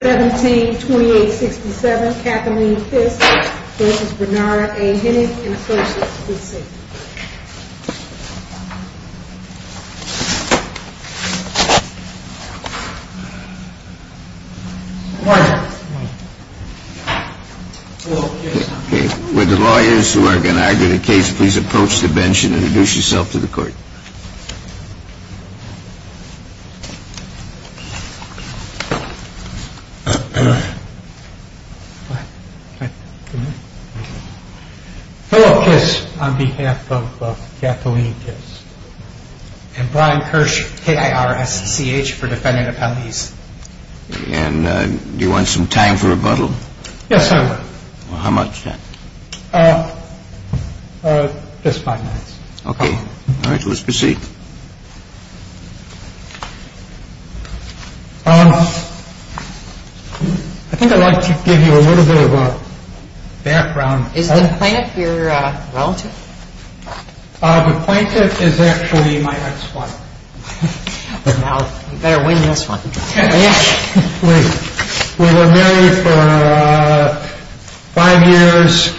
172867 Kathleen Fisk versus Bernard A. Hennig in Associates, please stand. Good morning. Would the lawyers who are going to argue the case please approach the bench and introduce yourself to the court. Philip Kiss on behalf of Kathleen Kiss. And Brian Kirsch, K-I-R-S-C-H, for defendant appellees. And do you want some time for rebuttal? Yes, sir. How much time? Just five minutes. Okay. All right, let's proceed. I think I'd like to give you a little bit of a background. Is the plaintiff your relative? The plaintiff is actually my ex-wife. You better win this one. We were married for five years,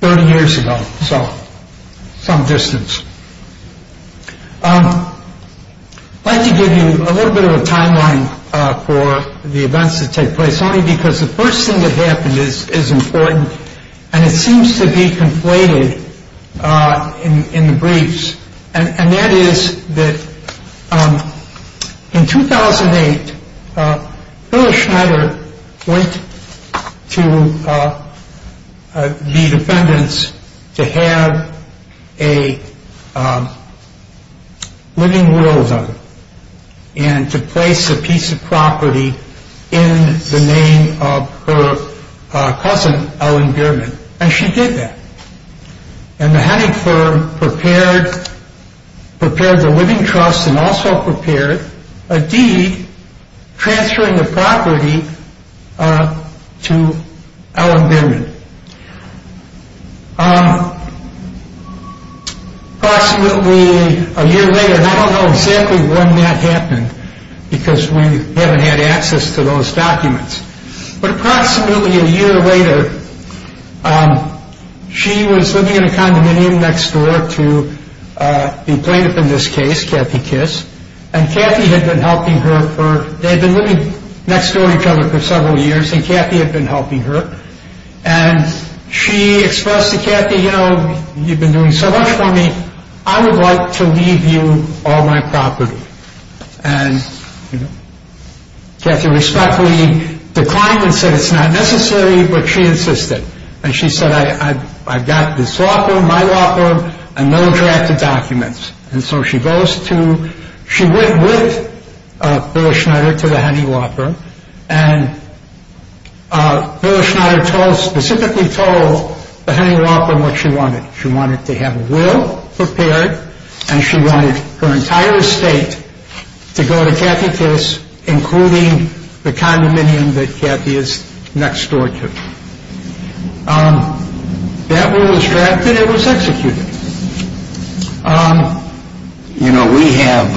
30 years ago, so some distance. I'd like to give you a little bit of a timeline for the events that take place, only because the first thing that happened is important, and it seems to be conflated in the briefs. And that is that in 2008, Phyllis Schneider went to the defendants to have a living will done and to place a piece of property in the name of her cousin, Alan Bierman. And she did that. And the hunting firm prepared the living trust and also prepared a deed transferring the property to Alan Bierman. Approximately a year later, and I don't know exactly when that happened, because we haven't had access to those documents. But approximately a year later, she was living in a condominium next door to the plaintiff in this case, Kathy Kiss. And Kathy had been helping her. They had been living next door to each other for several years, and Kathy had been helping her. And she expressed to Kathy, you know, you've been doing so much for me. I would like to leave you all my property. And Kathy respectfully declined and said it's not necessary, but she insisted. And she said, I've got this law firm, my law firm, and no drafted documents. And so she went with Phyllis Schneider to the hunting law firm. And Phyllis Schneider specifically told the hunting law firm what she wanted. She wanted to have a will prepared, and she wanted her entire estate to go to Kathy Kiss, including the condominium that Kathy is next door to. That was drafted. It was executed. You know, we have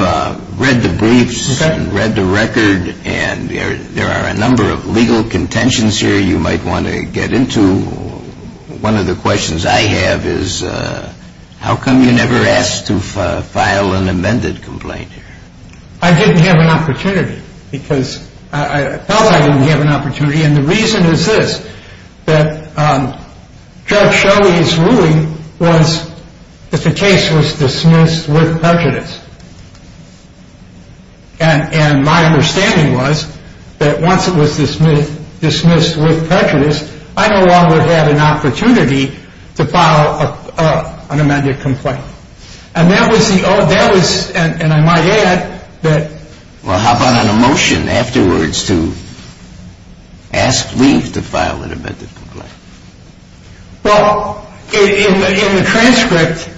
read the briefs and read the record, and there are a number of legal contentions here you might want to get into. One of the questions I have is how come you never asked to file an amended complaint here? I didn't have an opportunity because I felt I didn't have an opportunity. And the reason is this, that Judge Shelley's ruling was that the case was dismissed with prejudice. And my understanding was that once it was dismissed with prejudice, I no longer had an opportunity to file an amended complaint. And that was the only ‑‑ and I might add that ‑‑ Well, how about on a motion afterwards to ask leave to file an amended complaint? Well, in the transcript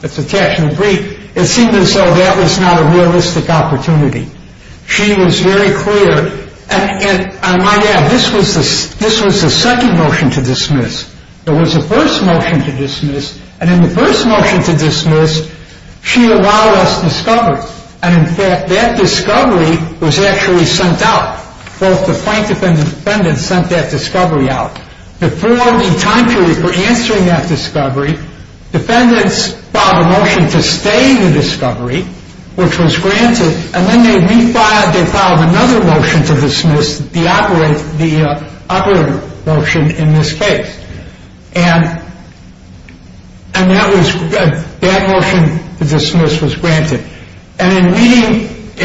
that's attached in the brief, it seemed as though that was not a realistic opportunity. She was very clear, and I might add this was the second motion to dismiss. There was a first motion to dismiss, and in the first motion to dismiss, she allowed us discovery. And in fact, that discovery was actually sent out. Both the plaintiff and the defendant sent that discovery out. Before the time period for answering that discovery, defendants filed a motion to stay in the discovery, which was granted, and then they refiled, they filed another motion to dismiss, the other motion in this case. And that motion to dismiss was granted. And in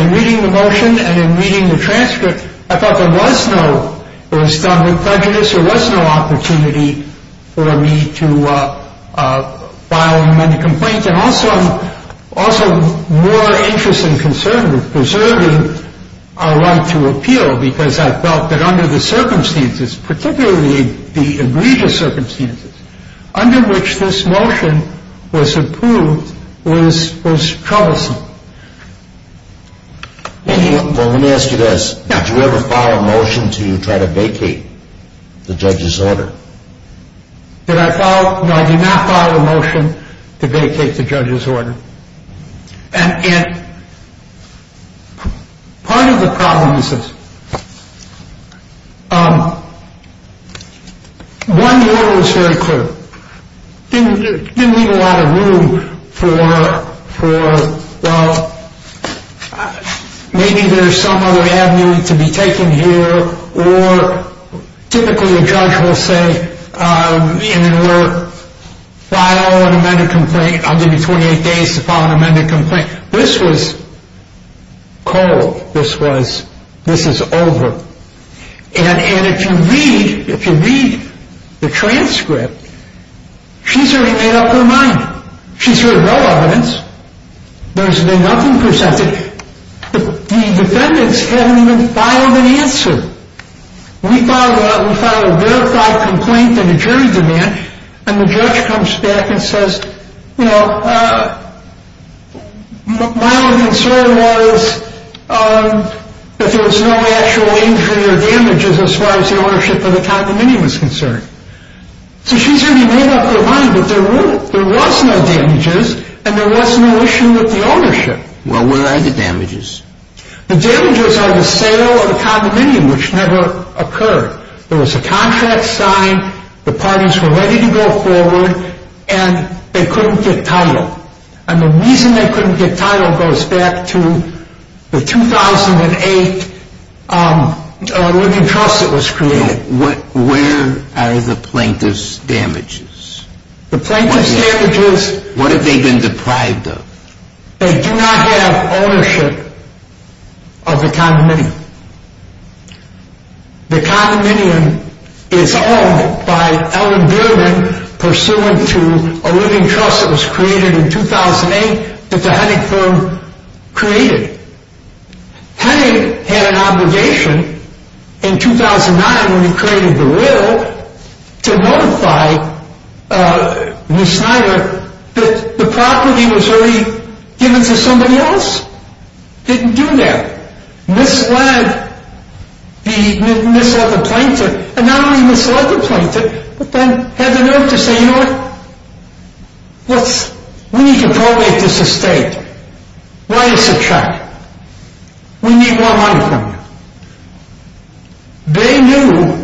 reading the motion and in reading the transcript, I thought there was no ‑‑ it was done with prejudice, there was no opportunity for me to file an amended complaint. And also, I'm more interested in preserving our right to appeal, because I felt that under the circumstances, particularly the egregious circumstances, under which this motion was approved was troublesome. Let me ask you this. Did you ever file a motion to try to vacate the judge's order? No, I did not file a motion to vacate the judge's order. And part of the problem is this. One, the order was very clear. It didn't leave a lot of room for maybe there's some other avenue to be taken here, or typically a judge will say, file an amended complaint, I'll give you 28 days to file an amended complaint. This was cold. This was, this is over. And if you read, if you read the transcript, she's already made up her mind. She's heard no evidence. There's been nothing presented. The defendants haven't even filed an answer. We filed a verified complaint in a jury demand, and the judge comes back and says, you know, my only concern was that there was no actual injury or damages as far as the ownership of the condominium was concerned. So she's already made up her mind that there was no damages, and there was no issue with the ownership. Well, where are the damages? The damages are the sale of the condominium, which never occurred. There was a contract signed. The parties were ready to go forward, and they couldn't get title. And the reason they couldn't get title goes back to the 2008 living trust that was created. Where are the plaintiff's damages? The plaintiff's damages. What have they been deprived of? They do not have ownership of the condominium. The condominium is owned by Ellen Beerman, pursuant to a living trust that was created in 2008 that the Hennig firm created. Hennig had an obligation in 2009 when he created the will to notify Ms. Snyder that the property was already given to somebody else. Didn't do that. Misled the plaintiff, and not only misled the plaintiff, but then had the note to say, you know what? We need to probate this estate. Why did you subtract? We need more money from you. They knew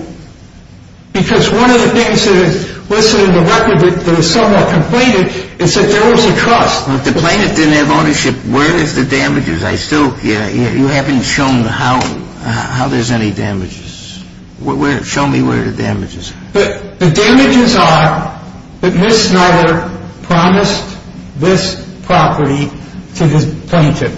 because one of the things that is listed in the record that is somewhat completed is that there was a trust. The plaintiff didn't have ownership. Where is the damages? You haven't shown how there's any damages. Show me where the damage is. The damages are that Ms. Snyder promised this property to this plaintiff.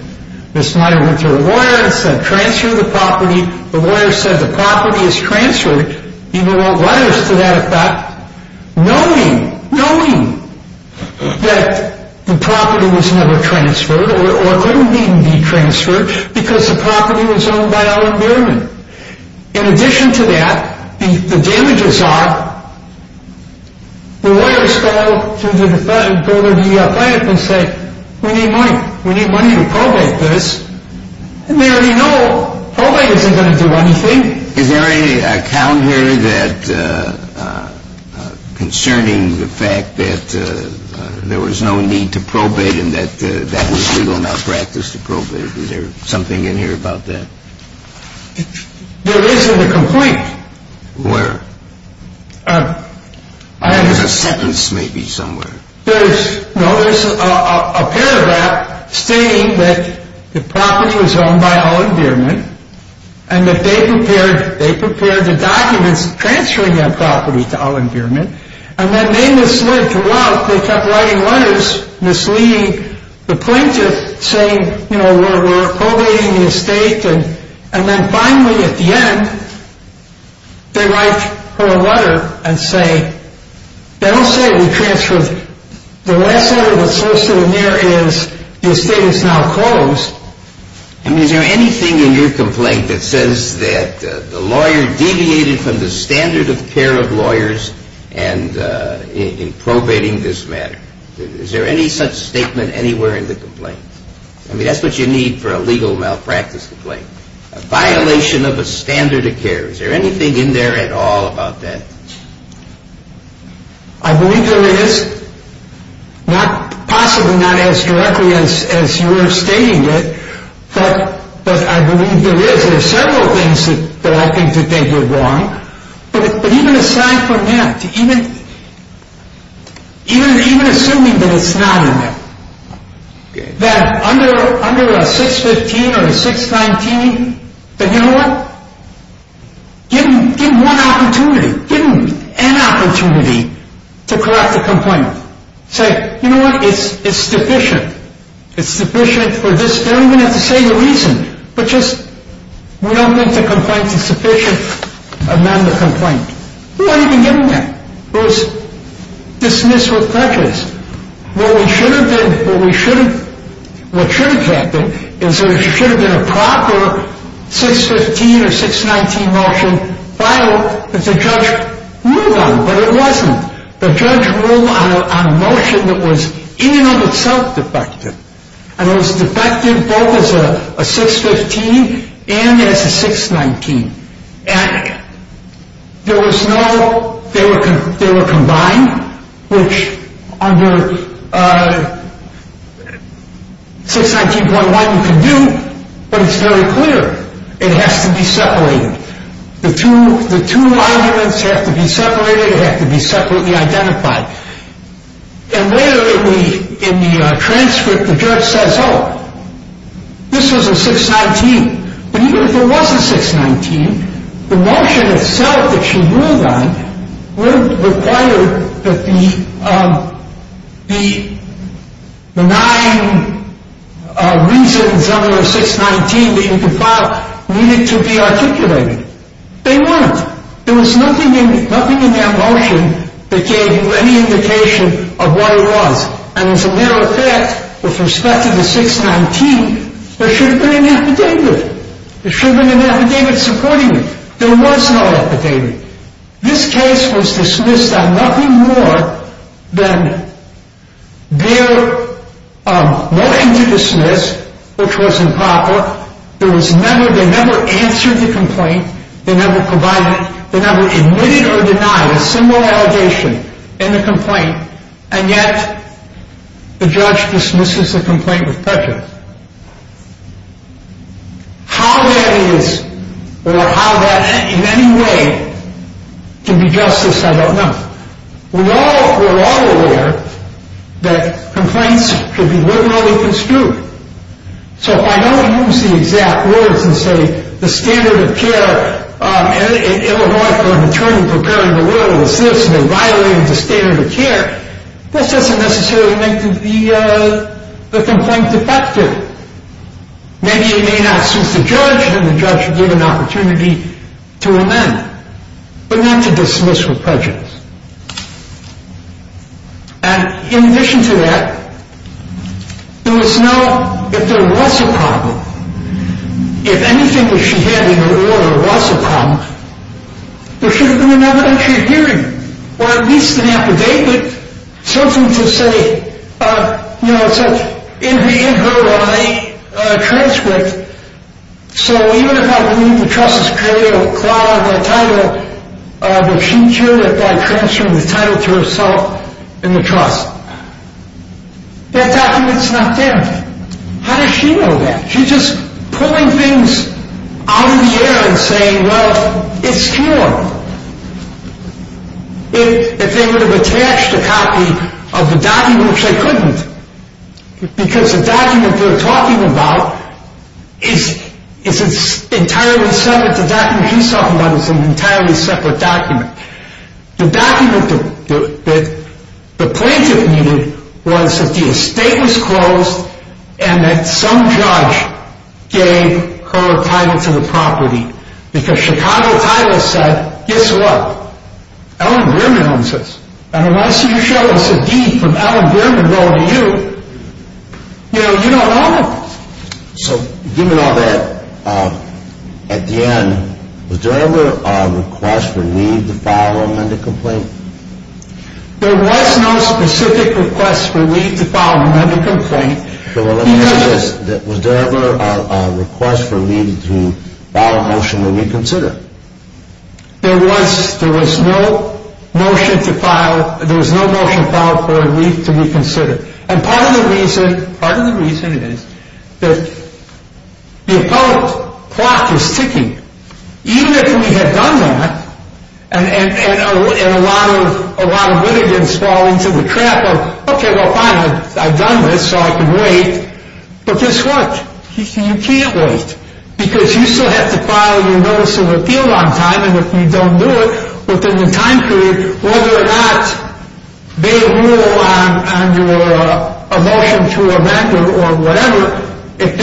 Ms. Snyder went to her lawyer and said transfer the property. The lawyer said the property is transferred, even wrote letters to that effect, knowing, knowing that the property was never transferred or couldn't even be transferred because the property was owned by Ellen Beerman. In addition to that, the damages are the lawyers called to the plaintiff and said, we need money. We need money to probate this. And they already know probating isn't going to do anything. Is there any account here concerning the fact that there was no need to probate and that that was legal enough practice to probate? Is there something in here about that? There is in the complaint. Where? There's a sentence maybe somewhere. No, there's a paragraph stating that the property was owned by Ellen Beerman and that they prepared the documents transferring that property to Ellen Beerman. And then they misled throughout. They kept writing letters misleading the plaintiff saying, you know, we're probating the estate. And then finally at the end, they write her a letter and say, they don't say we transferred. The last letter that's listed in there is the estate is now closed. I mean, is there anything in your complaint that says that the lawyer deviated from the standard of care of lawyers in probating this matter? Is there any such statement anywhere in the complaint? I mean, that's what you need for a legal malpractice complaint, a violation of a standard of care. Is there anything in there at all about that? I believe there is. Possibly not as directly as you're stating it, but I believe there is. There are several things that I think you're wrong. But even assuming that it's not in there, that under a 615 or a 619, that, you know what, give them one opportunity, give them an opportunity to correct the complaint. Say, you know what, it's sufficient. It's sufficient for this. They don't even have to say the reason, but just we don't think the complaint is sufficient to amend the complaint. We weren't even given that. It was dismissed with prejudice. What should have happened is there should have been a proper 615 or 619 motion filed that the judge ruled on, but it wasn't. The judge ruled on a motion that was in and of itself defective, and it was defective both as a 615 and as a 619. And there was no, they were combined, which under 619.1 you can do, but it's very clear it has to be separated. The two monuments have to be separated. They have to be separately identified. And later in the transcript, the judge says, oh, this was a 619. But even if it was a 619, the motion itself that she ruled on required that the nine reasons under the 619 that you compiled needed to be articulated. They weren't. There was nothing in that motion that gave you any indication of what it was. And as a matter of fact, with respect to the 619, there should have been an affidavit. There should have been an affidavit supporting it. There was no affidavit. This case was dismissed on nothing more than their motion to dismiss, which was improper. There was never, they never answered the complaint. They never provided, they never admitted or denied a similar allegation in the complaint. And yet the judge dismisses the complaint with prejudice. How that is or how that in any way can be justice, I don't know. We're all aware that complaints should be literally construed. So if I don't use the exact words and say the standard of care in Illinois for an attorney preparing a will for the citizen to violate the standard of care, this doesn't necessarily make the complaint effective. Maybe it may not suit the judge, and the judge would give an opportunity to amend, but not to dismiss with prejudice. And in addition to that, there was no, if there was a problem, if anything that she had in her order was a problem, there should have been an evidentiary hearing, or at least an affidavit, something to say, you know, it's in her I transcript, so even if I believe the trust has created a cloud of a title, but she did it by transferring the title to herself in the trust. That document's not there. How does she know that? She's just pulling things out of the air and saying, well, it's true. If they would have attached a copy of the document, which they couldn't, because the document they're talking about is entirely separate. The document she's talking about is an entirely separate document. The document that the plaintiff needed was that the estate was closed and that some judge gave her a title to the property. Because Chicago Title said, guess what? Ellen Bierman owns this. And unless you show us a deed from Ellen Bierman relative to you, you know, you don't own it. So given all that, at the end, was there ever a request for leave to file a amended complaint? There was no specific request for leave to file an amended complaint. Well, let me ask you this. Was there ever a request for leave to file a motion to reconsider? There was. There was no motion to file. There was no motion filed for leave to reconsider. And part of the reason is that the appellate clock is ticking. Even if we had done that and a lot of litigants fall into the trap of, okay, well, fine, I've done this so I can wait. But guess what? You can't wait. Because you still have to file your notice of appeal on time. If you make a motion to amend or whatever, if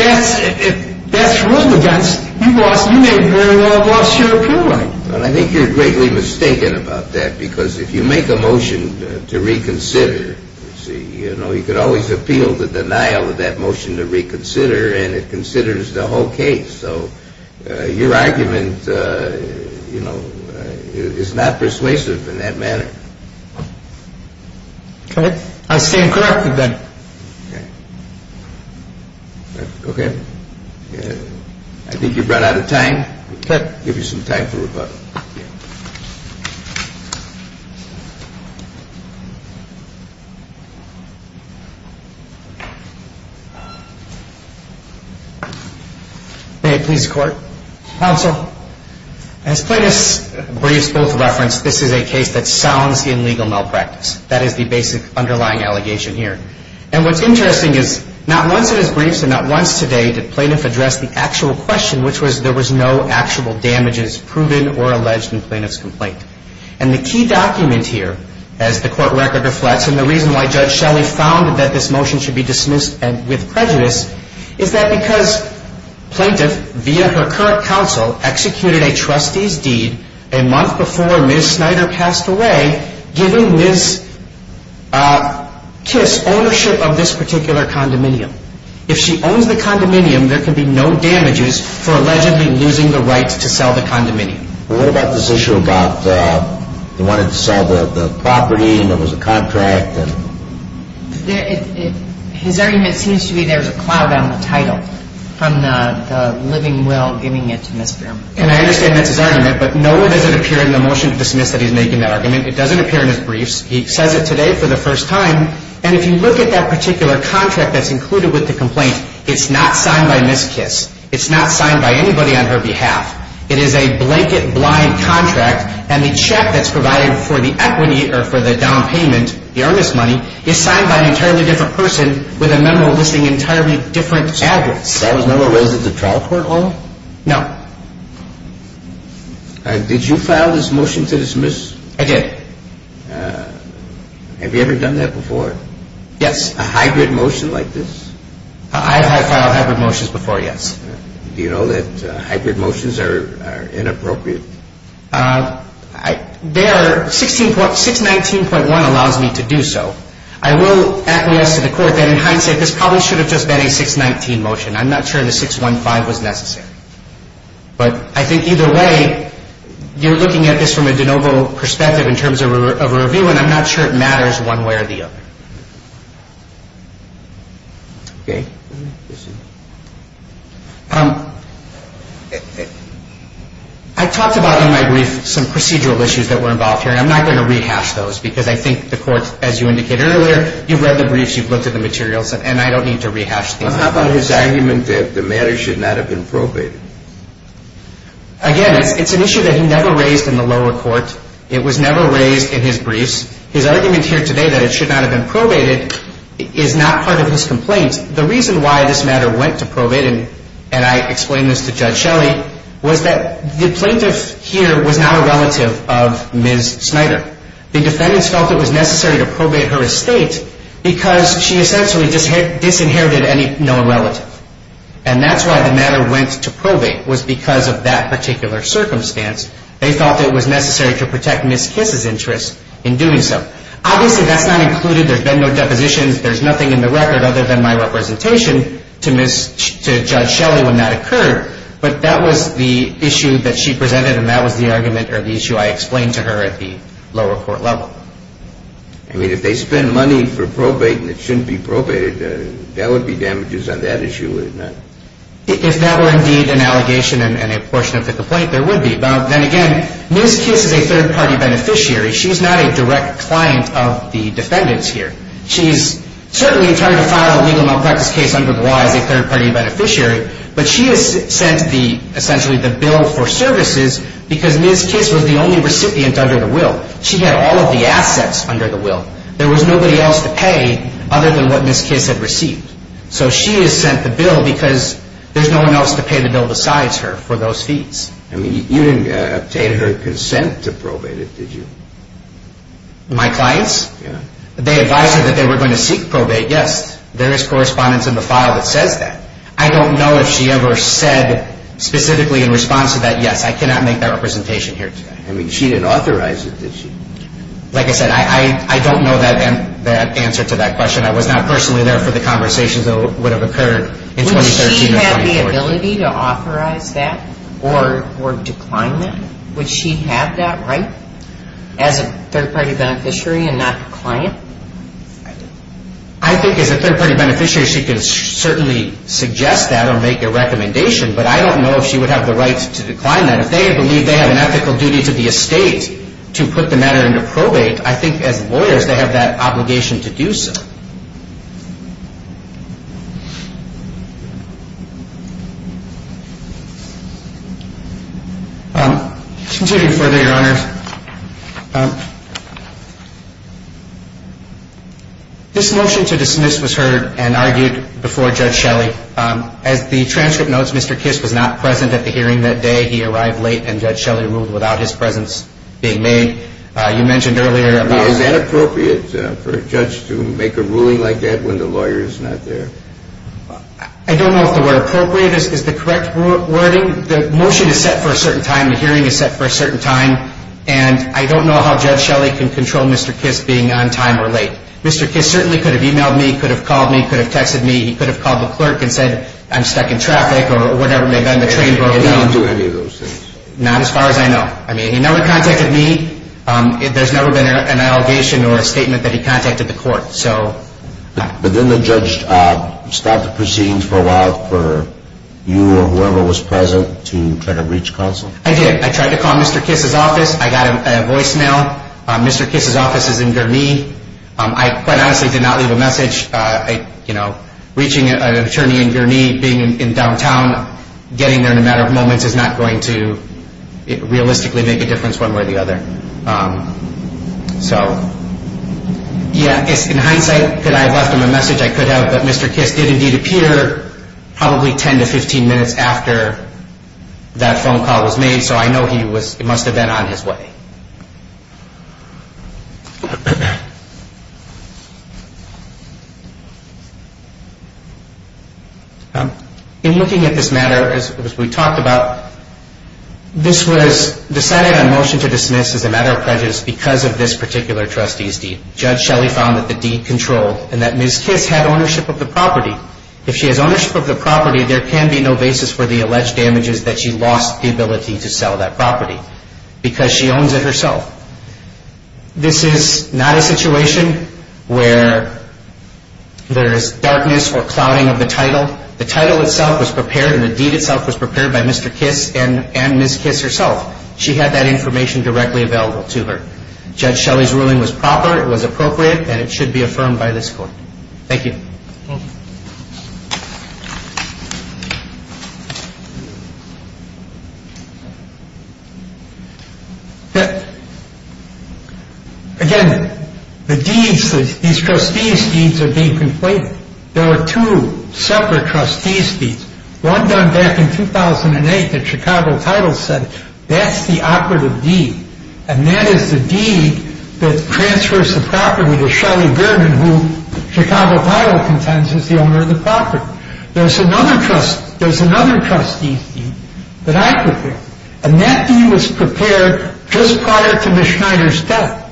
that's ruled against, you may very well have lost your appeal right. Well, I think you're greatly mistaken about that because if you make a motion to reconsider, you know, you could always appeal the denial of that motion to reconsider and it considers the whole case. So your argument, you know, is not persuasive in that manner. Okay. I stand corrected then. Okay. Okay. I think you've run out of time. I'll give you some time for rebuttal. May it please the Court. Counsel. As plaintiff's briefs both referenced, this is a case that sounds in legal malpractice. That is the basic underlying allegation here. And what's interesting is not once in his briefs and not once today did plaintiff address the actual question, which was there was no actual damages proven or alleged in plaintiff's complaint. And the key document here, as the court record reflects, and the reason why Judge Shelley found that this motion should be dismissed with prejudice, is that because plaintiff, via her current counsel, executed a trustee's deed a month before Ms. Snyder passed away, giving Ms. Kiss ownership of this particular condominium. If she owns the condominium, there could be no damages for allegedly losing the rights to sell the condominium. What about this issue about they wanted to sell the property and there was a contract? His argument seems to be there's a cloud on the title from the living will giving it to Ms. Broom. And I understand that's his argument, but nowhere does it appear in the motion to dismiss that he's making that argument. It doesn't appear in his briefs. He says it today for the first time. And if you look at that particular contract that's included with the complaint, it's not signed by Ms. Kiss. It's not signed by anybody on her behalf. It is a blanket, blind contract, and the check that's provided for the equity or for the down payment, the earnest money, is signed by an entirely different person with a memo listing entirely different adverts. That was never listed in the trial court at all? No. Did you file this motion to dismiss? I did. Have you ever done that before? Yes. A hybrid motion like this? I have filed hybrid motions before, yes. Do you know that hybrid motions are inappropriate? They are 16.619.1 allows me to do so. I will acquiesce to the court that in hindsight, this probably should have just been a 619 motion. I'm not sure the 615 was necessary. But I think either way, you're looking at this from a de novo perspective in terms of a review, and I'm not sure it matters one way or the other. Okay. I talked about in my brief some procedural issues that were involved here, and I'm not going to rehash those because I think the court, as you indicated earlier, you've read the briefs, you've looked at the materials, and I don't need to rehash these. How about his argument that the matter should not have been probated? Again, it's an issue that he never raised in the lower court. It was never raised in his briefs. His argument here today that it should not have been probated is not part of his complaint. The reason why this matter went to probate, and I explained this to Judge Shelley, was that the plaintiff here was now a relative of Ms. Snyder. The defendants felt it was necessary to probate her estate because she essentially disinherited no relative. And that's why the matter went to probate was because of that particular circumstance. They felt it was necessary to protect Ms. Kiss's interest in doing so. Obviously, that's not included. There's been no depositions. There's nothing in the record other than my representation to Judge Shelley when that occurred. But that was the issue that she presented, and that was the argument or the issue I explained to her at the lower court level. I mean, if they spend money for probate and it shouldn't be probated, there would be damages on that issue, would it not? If that were indeed an allegation and a portion of the complaint, there would be. But then again, Ms. Kiss is a third-party beneficiary. She's not a direct client of the defendants here. She's certainly entitled to file a legal malpractice case under the law as a third-party beneficiary, but she has sent essentially the bill for services because Ms. Kiss was the only recipient under the will. She had all of the assets under the will. There was nobody else to pay other than what Ms. Kiss had received. So she has sent the bill because there's no one else to pay the bill besides her for those fees. I mean, you didn't obtain her consent to probate it, did you? My clients? Yes. They advised her that they were going to seek probate. Yes, there is correspondence in the file that says that. I don't know if she ever said specifically in response to that, yes, I cannot make that representation here today. I mean, she didn't authorize it, did she? Like I said, I don't know that answer to that question. I was not personally there for the conversations that would have occurred in 2013 or 2014. Would she have the ability to authorize that or decline that? Would she have that right as a third-party beneficiary and not a client? I think as a third-party beneficiary she can certainly suggest that or make a recommendation, but I don't know if she would have the right to decline that. If they believe they have an ethical duty to the estate to put the matter into probate, I think as lawyers they have that obligation to do so. Continuing further, Your Honors, this motion to dismiss was heard and argued before Judge Shelley. As the transcript notes, Mr. Kiss was not present at the hearing that day. He arrived late, and Judge Shelley ruled without his presence being made. You mentioned earlier about – I mean, is that appropriate for a judge to make a ruling like that when the lawyer is not there? I don't know if the word appropriate is the correct wording. The motion is set for a certain time. The hearing is set for a certain time. And I don't know how Judge Shelley can control Mr. Kiss being on time or late. Mr. Kiss certainly could have emailed me, could have called me, could have texted me. He could have called the clerk and said, I'm stuck in traffic or whatever may have been the train broke down. He didn't do any of those things? Not as far as I know. I mean, he never contacted me. There's never been an allegation or a statement that he contacted the court. But didn't the judge stop the proceedings for a while for you or whoever was present to try to reach counsel? I did. I tried to call Mr. Kiss's office. I got a voicemail. Mr. Kiss's office is in Gurnee. I quite honestly did not leave a message. Reaching an attorney in Gurnee, being in downtown, getting there in a matter of moments, is not going to realistically make a difference one way or the other. So, yeah, in hindsight, could I have left him a message? I could have, but Mr. Kiss did indeed appear probably 10 to 15 minutes after that phone call was made, so I know he must have been on his way. In looking at this matter, as we talked about, this was decided on motion to dismiss as a matter of prejudice because of this particular trustee's deed. Judge Shelley found that the deed controlled and that Ms. Kiss had ownership of the property. If she has ownership of the property, there can be no basis for the alleged damages that she lost the ability to sell that property because she owns it herself. This is not a situation where there is darkness or clouding of the title. The title itself was prepared and the deed itself was prepared by Mr. Kiss and Ms. Kiss herself. She had that information directly available to her. Judge Shelley's ruling was proper, it was appropriate, and it should be affirmed by this court. Thank you. Again, the deeds, these trustee's deeds are being complained. There are two separate trustee's deeds. One done back in 2008 that Chicago Title said, that's the operative deed, and that is the deed that transfers the property to Shelley Berman, who Chicago Title contends is the owner of the property. There's another trustee's deed that I prepared, and that deed was prepared just prior to Ms. Schneider's death,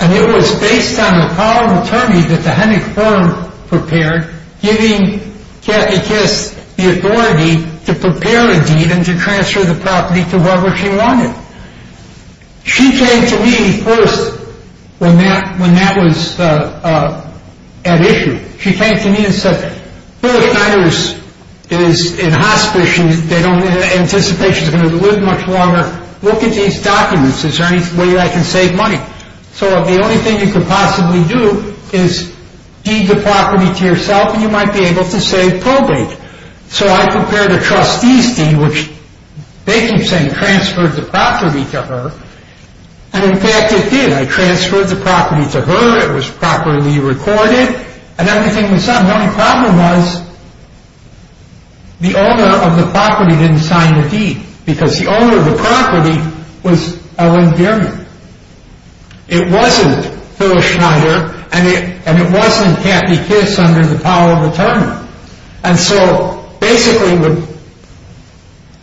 and it was based on the call of attorney that the Hennick firm prepared, giving Kathy Kiss the authority to prepare a deed and to transfer the property to whoever she wanted. She came to me first when that was at issue. She came to me and said, Billy Schneider is in hospital, they don't anticipate she's going to live much longer. Look at these documents, is there any way I can save money? So the only thing you could possibly do is deed the property to yourself, and you might be able to save probate. So I prepared a trustee's deed, which they keep saying transferred the property to her, and in fact it did. I transferred the property to her, it was properly recorded, and everything was set. The only problem was the owner of the property didn't sign the deed, because the owner of the property was Ellen Gehrman. It wasn't Billy Schneider, and it wasn't Kathy Kiss under the call of attorney. And so basically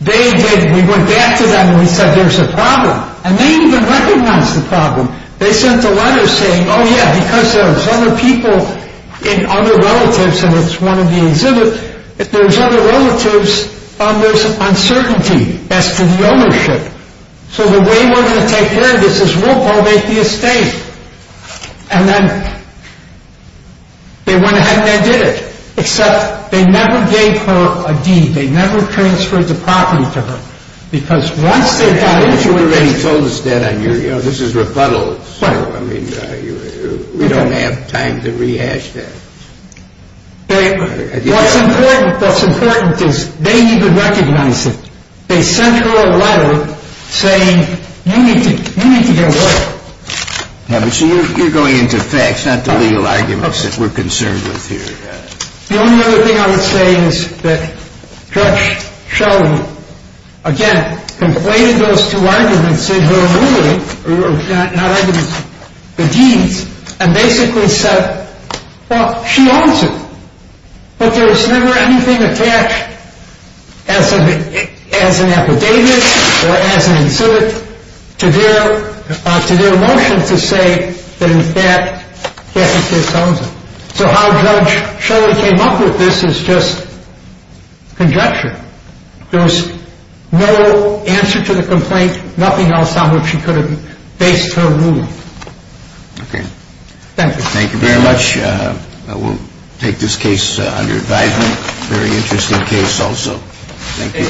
they did, we went back to them and said there's a problem, and they didn't even recognize the problem. They sent a letter saying, oh yeah, because there's other people, and other relatives, and it's one of the exhibits, there's other relatives, there's uncertainty as to the ownership. So the way we're going to take care of this is we'll probate the estate. And then they went ahead and they did it, except they never gave her a deed, they never transferred the property to her, because once they got into it. But you already told us that, this is rebuttal, so we don't have time to rehash that. What's important is they didn't even recognize it. They sent her a letter saying, you need to get away. But you're going into facts, not the legal arguments that we're concerned with here. The only other thing I would say is that Judge Sheldon, again, conflated those two arguments in her ruling, not arguments, the deeds, and basically said, well, she owns it. But there was never anything attached as an affidavit, or as an exhibit, to their motion to say that in fact Cathy Pierce owns it. So how Judge Sheldon came up with this is just conjecture. There was no answer to the complaint, nothing else on which she could have based her ruling. Okay. Thank you. Thank you very much. We'll take this case under advisement, very interesting case also. Thank you.